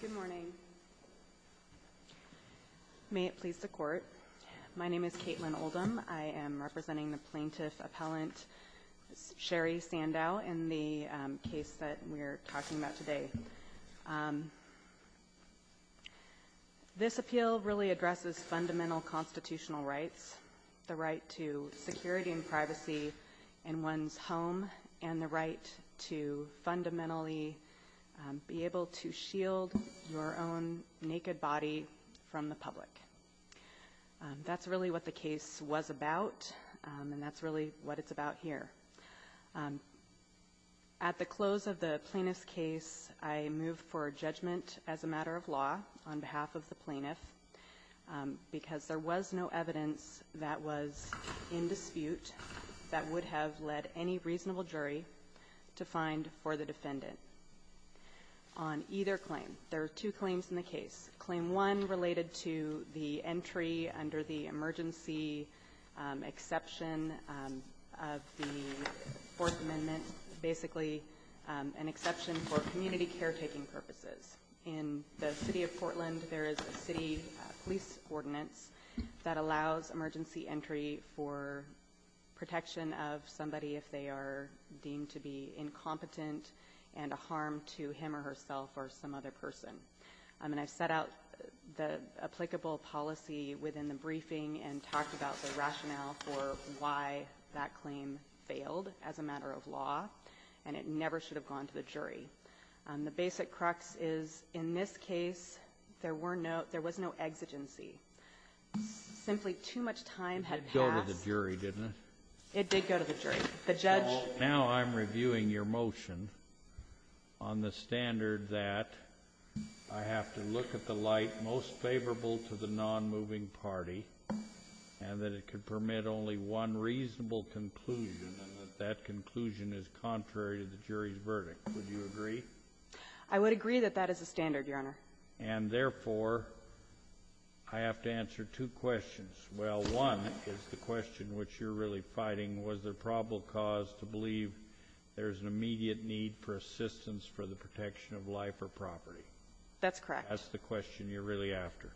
Good morning. May it please the court. My name is Caitlin Oldham. I am representing the plaintiff appellant Sherri Sandau in the case that we're talking about today. This appeal really addresses fundamental constitutional rights. The right to security and privacy in one's home and the right to fundamentally be able to shield your own naked body from the public. That's really what the case was about. And that's really what it's about here. At the close of the plaintiff's case, I moved for judgment as a matter of law on behalf of the plaintiff because there was no evidence that was in the case to find for the defendant. On either claim, there are two claims in the case. Claim 1 related to the entry under the emergency exception of the Fourth Amendment, basically an exception for community caretaking purposes. In the city of Portland, there is a city police ordinance that allows emergency entry for protection of somebody if they are deemed to be incompetent and a harm to him or herself or some other person. And I've set out the applicable policy within the briefing and talked about the rationale for why that claim failed as a matter of law, and it never should have gone to the jury. The basic crux is, in this case, there were no -- there was no exigency. Simply too much time had passed. It did go to the jury, didn't it? It did go to the jury. The judge --- Well, now I'm reviewing your motion on the standard that I have to look at the light most favorable to the nonmoving party and that it could permit only one reasonable conclusion and that that conclusion is contrary to the jury's verdict. Would you agree? I would agree that that is the standard, Your Honor. And therefore, I have to answer two questions. Well, one is the question which you're really fighting. Was there probable cause to believe there's an immediate need for assistance for the protection of life or property? That's correct. That's the question you're really after.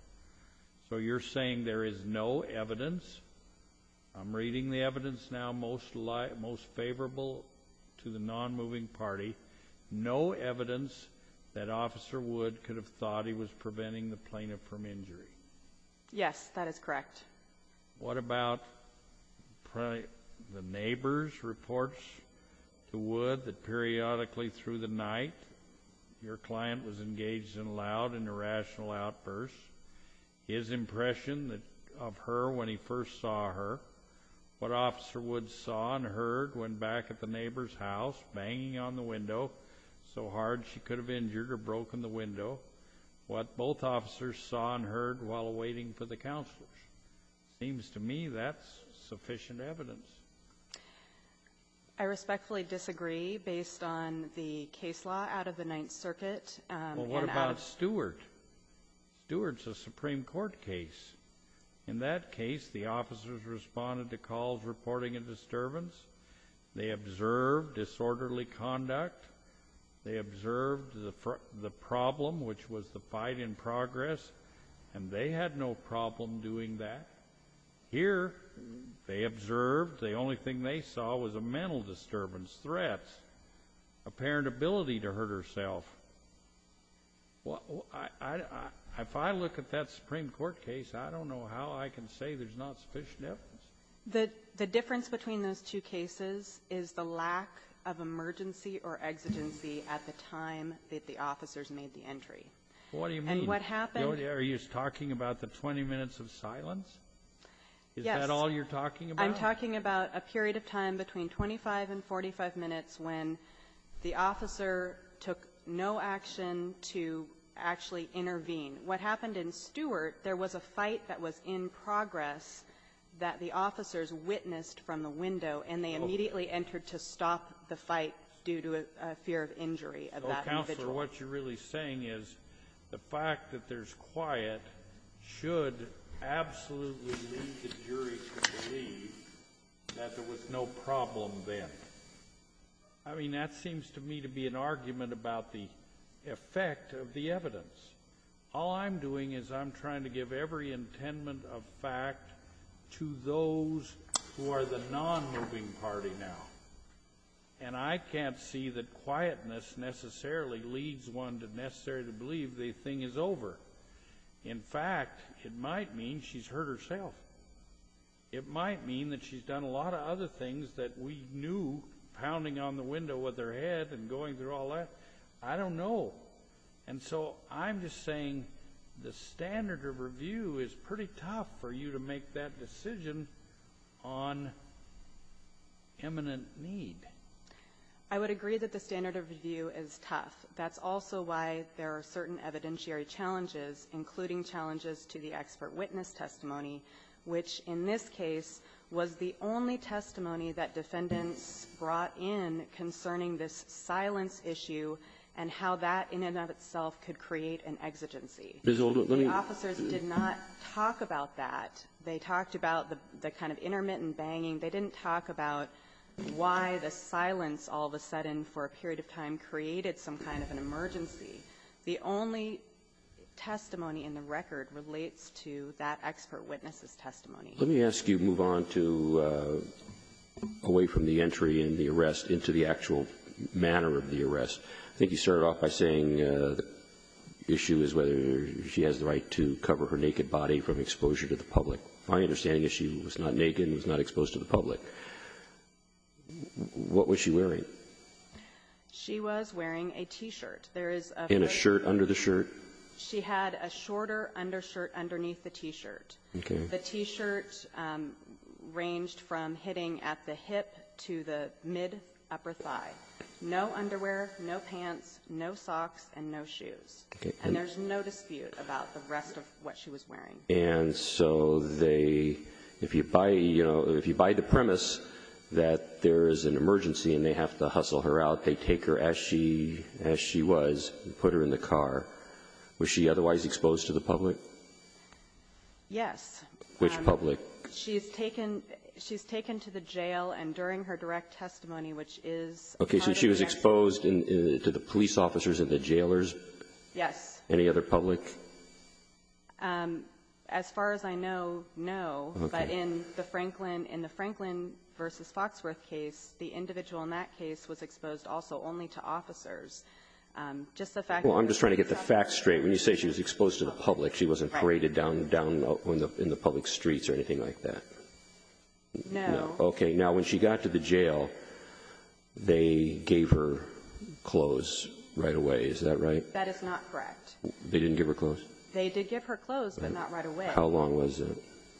So you're saying there is no evidence. I'm reading the evidence now, most favorable to the nonmoving party, no evidence that Officer Wood could have thought he was preventing the plaintiff from injury. Yes, that is correct. What about the neighbor's reports to Wood that periodically through the night, your client was engaged in loud and irrational outbursts. His impression of her when he first saw her, what Officer Wood saw and heard when back at the neighbor's house, banging on the window so hard she could have injured or broken the window, what both officers saw and heard while waiting for the counselors. Seems to me that's sufficient evidence. I respectfully disagree based on the case law out of the Ninth Circuit. Well, what about Stewart? Stewart's a Supreme Court case. In that case, the officers responded to calls reporting a disturbance. They observed disorderly conduct. They observed the problem, which was the fight in progress, and they had no problem doing that. Here, they observed the only thing they saw was a mental disturbance, threats, apparent ability to hurt herself. Well, if I look at that Supreme Court case, I don't know how I can say there's not sufficient evidence. The difference between those two cases is the lack of emergency or exigency at the time that the officers made the entry. What do you mean? And what happened — Are you talking about the 20 minutes of silence? Yes. Is that all you're talking about? I'm talking about a period of time between 25 and 45 minutes when the officer took no action to actually intervene. What happened in Stewart, there was a fight that was in progress that the officers witnessed from the window, and they immediately entered to stop the fight due to a fear of injury of that individual. So what you're really saying is the fact that there's quiet should absolutely lead the jury to believe that there was no problem then. I mean, that seems to me to be an argument about the effect of the evidence. All I'm doing is I'm trying to give every intention of fact to those who are the non-moving party now. And I can't see that quietness necessarily leads one to necessarily believe the thing is over. In fact, it might mean she's hurt herself. It might mean that she's done a lot of other things that we knew, pounding on the window with her head and going through all that. I don't know. And so I'm just saying the standard of review is pretty tough for you to make that decision on imminent need. I would agree that the standard of review is tough. That's also why there are certain evidentiary challenges, including challenges to the expert witness testimony, which in this case was the only testimony that defendants brought in concerning this silence issue. And how that in and of itself could create an exigency. The officers did not talk about that. They talked about the kind of intermittent banging. They didn't talk about why the silence all of a sudden for a period of time created some kind of an emergency. The only testimony in the record relates to that expert witness's testimony. Let me ask you to move on to, away from the entry and the arrest, into the actual manner of the arrest. I think you started off by saying the issue is whether she has the right to cover her naked body from exposure to the public. My understanding is she was not naked and was not exposed to the public. What was she wearing? She was wearing a T-shirt. There is a veil. And a shirt under the shirt? She had a shorter undershirt underneath the T-shirt. Okay. The T-shirt ranged from hitting at the hip to the mid-upper thigh. No underwear, no pants, no socks, and no shoes. Okay. And there's no dispute about the rest of what she was wearing. And so they, if you buy, you know, if you buy the premise that there is an emergency and they have to hustle her out, they take her as she was and put her in the car. Was she otherwise exposed to the public? Yes. Which public? She's taken to the jail, and during her direct testimony, which is part of the arrest. Okay. So she was exposed to the police officers and the jailers? Yes. Any other public? As far as I know, no. Okay. But in the Franklin versus Foxworth case, the individual in that case was exposed also only to officers. Just the fact that she was exposed to the public. She wasn't paraded down in the public streets or anything like that. No. Okay. Now, when she got to the jail, they gave her clothes right away. Is that right? That is not correct. They didn't give her clothes? They did give her clothes, but not right away. How long was it?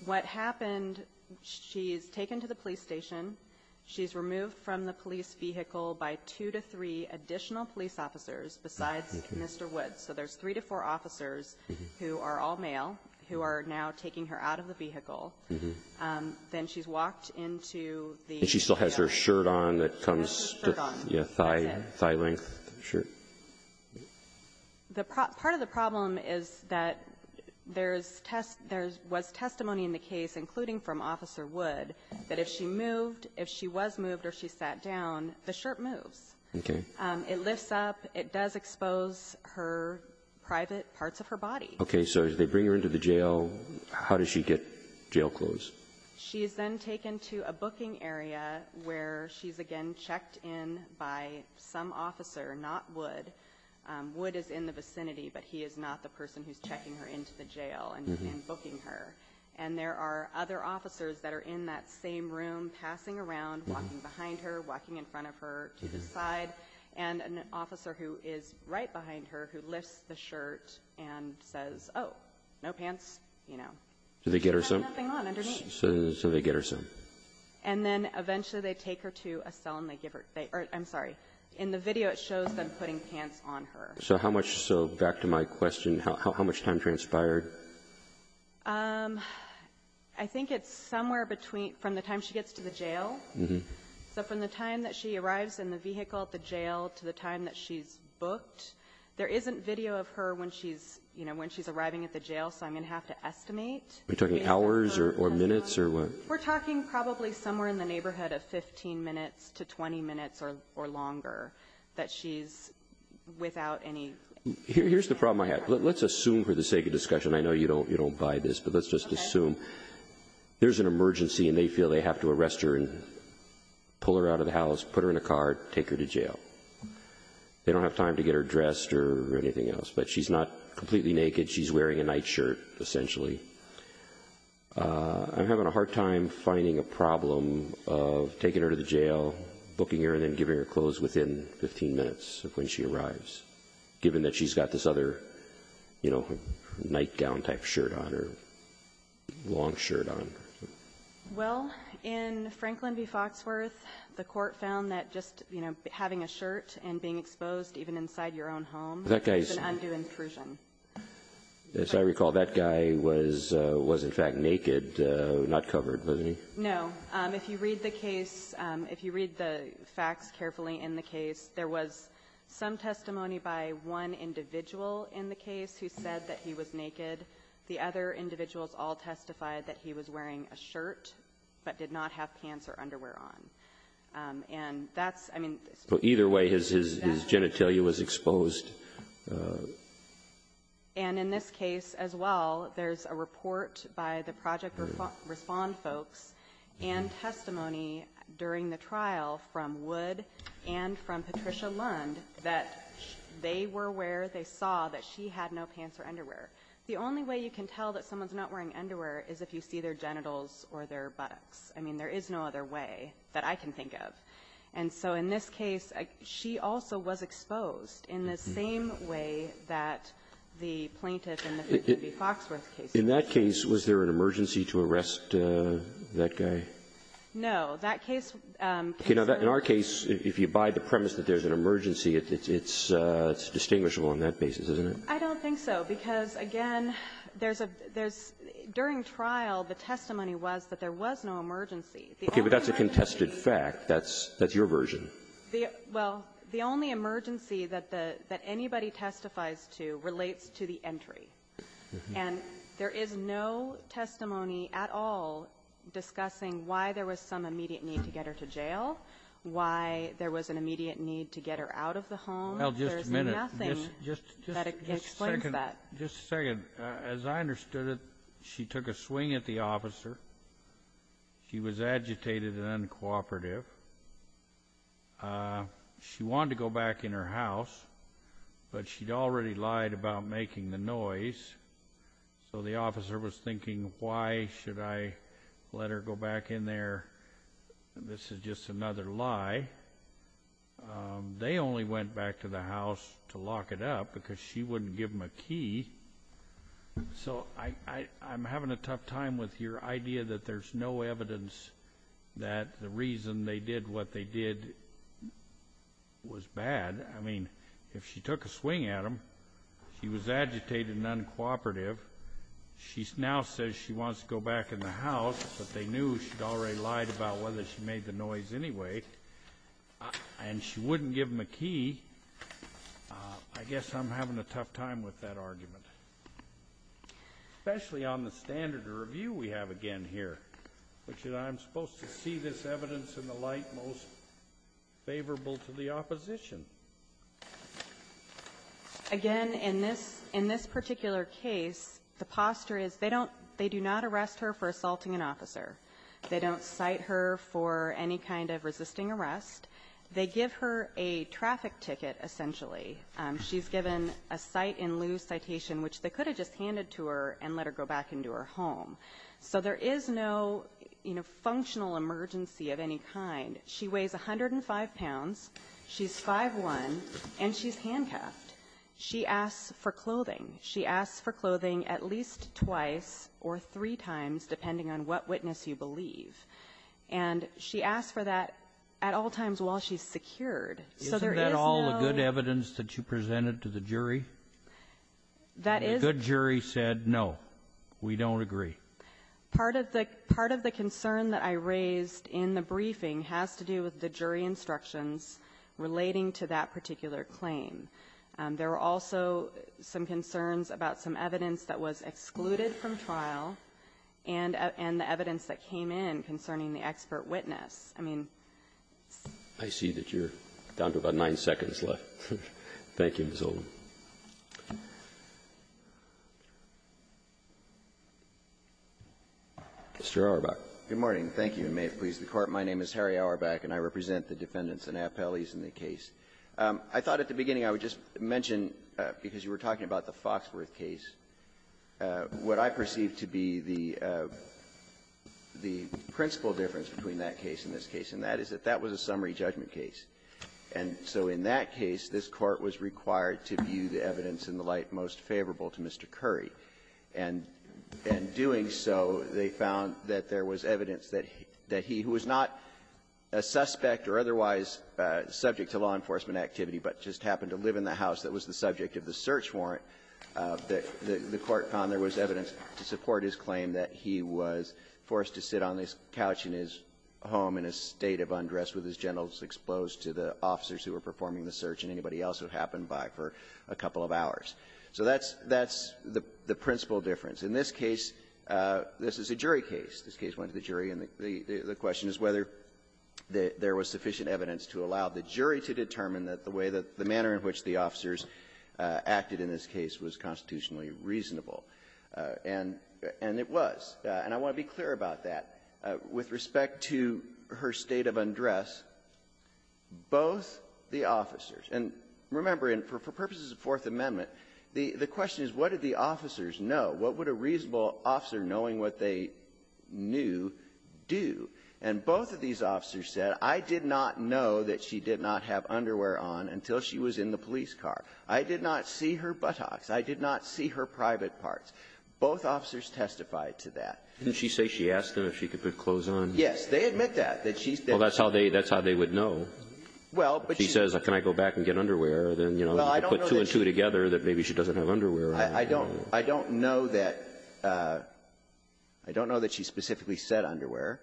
What happened, she's taken to the police station. She's removed from the police vehicle by two to three additional police officers besides Mr. Woods. So there's three to four officers who are all male, who are now taking her out of the vehicle. Then she's walked into the jail. And she still has her shirt on that comes to the thigh length shirt? Part of the problem is that there's test — there was testimony in the case, including from Officer Wood, that if she moved, if she was moved or she sat down, the shirt moves. Okay. It lifts up. It does expose her private parts of her body. Okay. So as they bring her into the jail, how does she get jail clothes? She is then taken to a booking area where she's again checked in by some officer, not Wood. Wood is in the vicinity, but he is not the person who's checking her into the jail and booking her. And there are other officers that are in that same room, passing around, walking behind her, walking in front of her to the side. And an officer who is right behind her, who lifts the shirt and says, oh, no pants. You know. Do they get her some? She has nothing on underneath. So they get her some. And then eventually they take her to a cell and they give her — or I'm sorry. In the video, it shows them putting pants on her. So how much — so back to my question, how much time transpired? I think it's somewhere between — from the time she gets to the jail. So from the time that she arrives in the vehicle at the jail to the time that she's booked, there isn't video of her when she's — you know, when she's arriving at the jail. So I'm going to have to estimate. Are you talking hours or minutes or what? We're talking probably somewhere in the neighborhood of 15 minutes to 20 minutes or longer that she's without any — Here's the problem I have. Let's assume for the sake of discussion, I know you don't buy this, but let's just assume there's an emergency and they feel they have to arrest her. And pull her out of the house, put her in a car, take her to jail. They don't have time to get her dressed or anything else. But she's not completely naked. She's wearing a nightshirt, essentially. I'm having a hard time finding a problem of taking her to the jail, booking her, and then giving her clothes within 15 minutes of when she arrives, given that she's got this other, you know, nightgown-type shirt on or long shirt on. Well, in Franklin v. Foxworth, the Court found that just, you know, having a shirt and being exposed even inside your own home is an undue intrusion. As I recall, that guy was in fact naked, not covered, wasn't he? No. If you read the case, if you read the facts carefully in the case, there was some testimony by one individual in the case who said that he was naked. The other individuals all testified that he was wearing a shirt, but did not have pants or underwear on. And that's, I mean the state of the art. Well, either way, his genitalia was exposed. And in this case as well, there's a report by the Project Respond folks and testimony during the trial from Wood and from Patricia Lund that they were where they saw that she had no pants or underwear. The only way you can tell that someone's not wearing underwear is if you see their genitals or their buttocks. I mean, there is no other way that I can think of. And so in this case, she also was exposed in the same way that the plaintiff in the Franklin v. Foxworth case was. In that case, was there an emergency to arrest that guy? That case was the one that was the most important. Okay. Now, in our case, if you abide the premise that there's an emergency, it's distinguishable on that basis, isn't it? I don't think so, because, again, there's a — there's — during trial, the testimony was that there was no emergency. Okay. But that's a contested fact. That's — that's your version. The — well, the only emergency that the — that anybody testifies to relates to the entry. And there is no testimony at all discussing why there was some immediate need to get her to jail, why there was an immediate need to get her out of the home. Well, just a minute. There's nothing that explains that. Just a second. As I understood it, she took a swing at the officer. She was agitated and uncooperative. She wanted to go back in her house, but she'd already lied about making the noise. So the officer was thinking, why should I let her go back in there? This is just another lie. They only went back to the house to lock it up because she wouldn't give them a key. So I'm having a tough time with your idea that there's no evidence that the reason they did what they did was bad. I mean, if she took a swing at them, she was agitated and uncooperative, she now says she wants to go back in the house, but they knew she'd already lied about whether she made the noise anyway. And she wouldn't give them a key. I guess I'm having a tough time with that argument, especially on the standard of review we have again here, which is I'm supposed to see this evidence in the light most favorable to the opposition. Again, in this particular case, the posture is they don't they do not arrest her for assaulting an officer. They don't cite her for any kind of resisting arrest. They give her a traffic ticket, essentially. She's given a cite-in-lieu citation, which they could have just handed to her and let her go back into her home. So there is no, you know, functional emergency of any kind. She weighs 105 pounds, she's 5'1", and she's handcuffed. She asks for clothing. She asks for clothing at least twice or three times, depending on what witness you believe. And she asks for that at all times while she's secured. So there is no ---- Kennedy, isn't that all the good evidence that you presented to the jury? That is ---- The good jury said, no, we don't agree. Part of the concern that I raised in the briefing has to do with the jury instructions relating to that particular claim. There were also some concerns about some evidence that was excluded from trial and the evidence that came in concerning the expert witness. I mean, it's ---- I see that you're down to about nine seconds left. Thank you, Ms. Oldham. Mr. Auerbach. Good morning. Thank you, and may it please the Court. My name is Harry Auerbach, and I represent the defendants and appellees in the case. I thought at the beginning I would just mention, because you were talking about the Foxworth case, what I perceive to be the principal difference between that case and this case, and that is that that was a summary judgment case. And so in that case, this Court was required to view the evidence in the light most favorable to Mr. Curry. And in doing so, they found that there was evidence that he, who was not a suspect or otherwise subject to law enforcement activity, but just happened to live in the house that was the subject of the search warrant, that the Court found there was evidence to support his claim that he was forced to sit on this couch in his home in a state of undress with his genitals exposed to the officers who were performing the search and anybody else who happened by for a couple of hours. So that's the principal difference. In this case, this is a jury case. This case went to the jury, and the question is whether there was sufficient evidence to allow the jury to determine that the way that the manner in which the officers acted in this case was constitutionally reasonable. And it was. And I want to be clear about that. With respect to her state of undress, both the officers — and remember, for purposes of Fourth Amendment, the question is, what did the officers know? What would a reasonable officer, knowing what they knew, do? And both of these officers said, I did not know that she did not have underwear on until she was in the police car. I did not see her buttocks. I did not see her private parts. Both officers testified to that. Didn't she say she asked him if she could put clothes on? They admit that, that she's been — Well, that's how they — that's how they would know. Well, but she — If she says, can I go back and get underwear, then, you know, they'll put two and two together that maybe she doesn't have underwear on. I don't — I don't know that — I don't know that she specifically said underwear.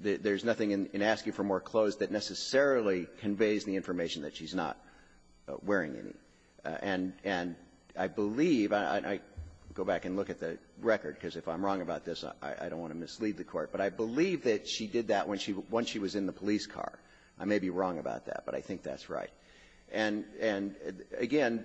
There's nothing in asking for more clothes that necessarily conveys the information that she's not wearing any. And I believe — and I go back and look at the record, because if I'm wrong about this, I don't want to mislead the Court. But I believe that she did that when she was in the police car. I may be wrong about that, but I think that's right. And — and, again,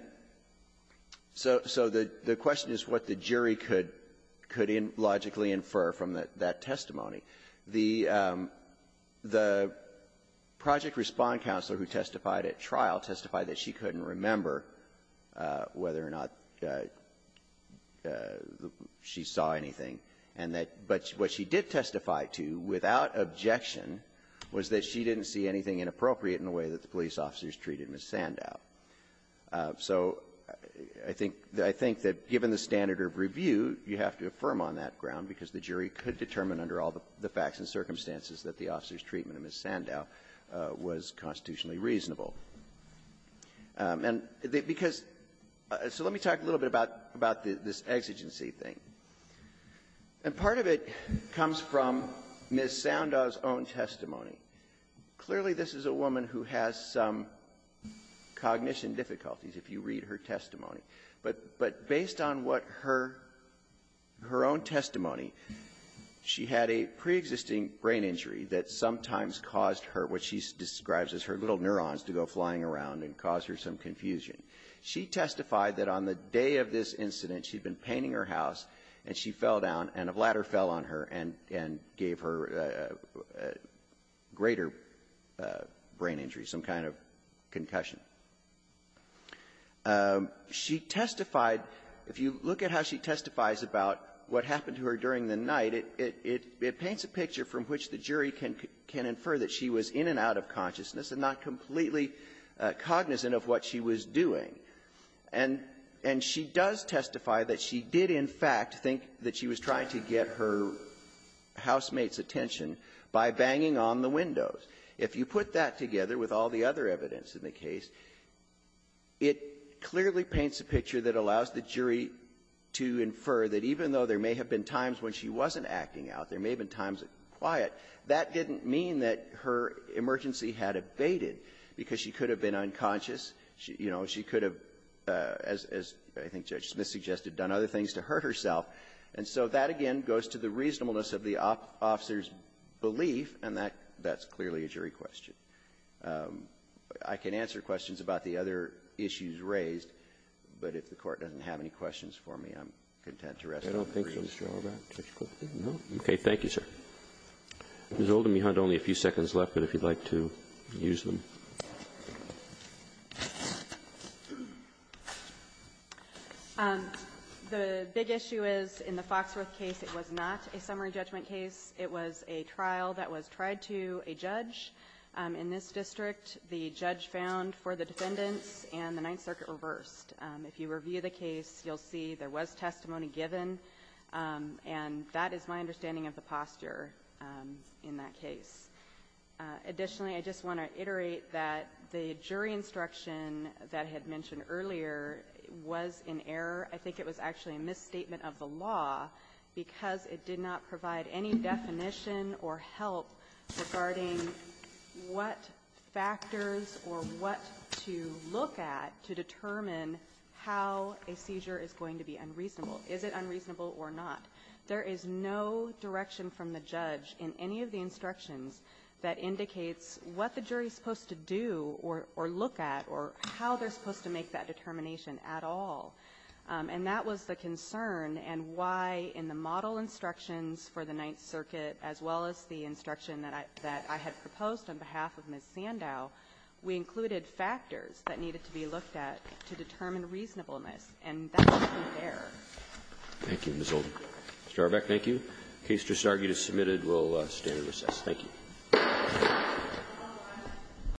so — so the — the question is what the jury could — could logically infer from that — that testimony. The — the project respond counselor who testified at trial testified that she couldn't remember whether or not she saw anything, and that — but what she did testify to, without objection, was that she didn't see anything inappropriate in the way that the police officers treated Ms. Sandow. So I think — I think that, given the standard of review, you have to affirm on that ground, because the jury could determine under all the facts and circumstances that the officers' treatment of Ms. Sandow was constitutionally reasonable. And because — so let me talk a little bit about — about this exigency thing. And part of it comes from Ms. Sandow's own testimony. Clearly, this is a woman who has some cognition difficulties, if you read her testimony. But — but based on what her — her own testimony, she had a preexisting brain injury that sometimes caused her what she describes as her little neurons to go flying around and cause her some confusion. She testified that on the day of this incident, she'd been painting her house, and she fell down, and a ladder fell on her, and — and gave her greater brain injury, some kind of concussion. She testified — if you look at how she testifies about what happened to her during the night, it — it paints a picture from which the jury can infer that she was in and out of consciousness and not completely to get her housemate's attention by banging on the windows. If you put that together with all the other evidence in the case, it clearly paints a picture that allows the jury to infer that even though there may have been times when she wasn't acting out, there may have been times when she was quiet, that didn't mean that her emergency had abated, because she could have been unconscious. She — you know, she could have, as — as I think Judge Smith suggested, done other things to hurt herself. And so that, again, goes to the reasonableness of the officer's belief, and that — that's clearly a jury question. I can answer questions about the other issues raised, but if the Court doesn't have any questions for me, I'm content to rest my case. Kennedy. I don't think so, Mr. Horwath. No. Okay. Thank you, sir. Ms. Oldham, you had only a few seconds left, but if you'd like to use them. The big issue is, in the Foxworth case, it was not a summary judgment case. It was a trial that was tried to a judge. In this district, the judge found for the defendants, and the Ninth Circuit reversed. If you review the case, you'll see there was testimony given, and that is my understanding of the posture in that case. Additionally, I just want to iterate that the jury instruction that I had mentioned earlier was in error. I think it was actually a misstatement of the law because it did not provide any definition or help regarding what factors or what to look at to determine how a seizure is going to be unreasonable. Is it unreasonable or not? There is no direction from the judge in any of the instructions that indicates what the jury is supposed to do or look at or how they're supposed to make that determination at all. And that was the concern and why in the model instructions for the Ninth Circuit, as well as the instruction that I had proposed on behalf of Ms. Sandow, we included factors that needed to be looked at to determine reasonableness, and that was in error. Thank you, Ms. Oldham. Mr. Arbeck, thank you. The case just argued is submitted. We'll stand at recess. Thank you.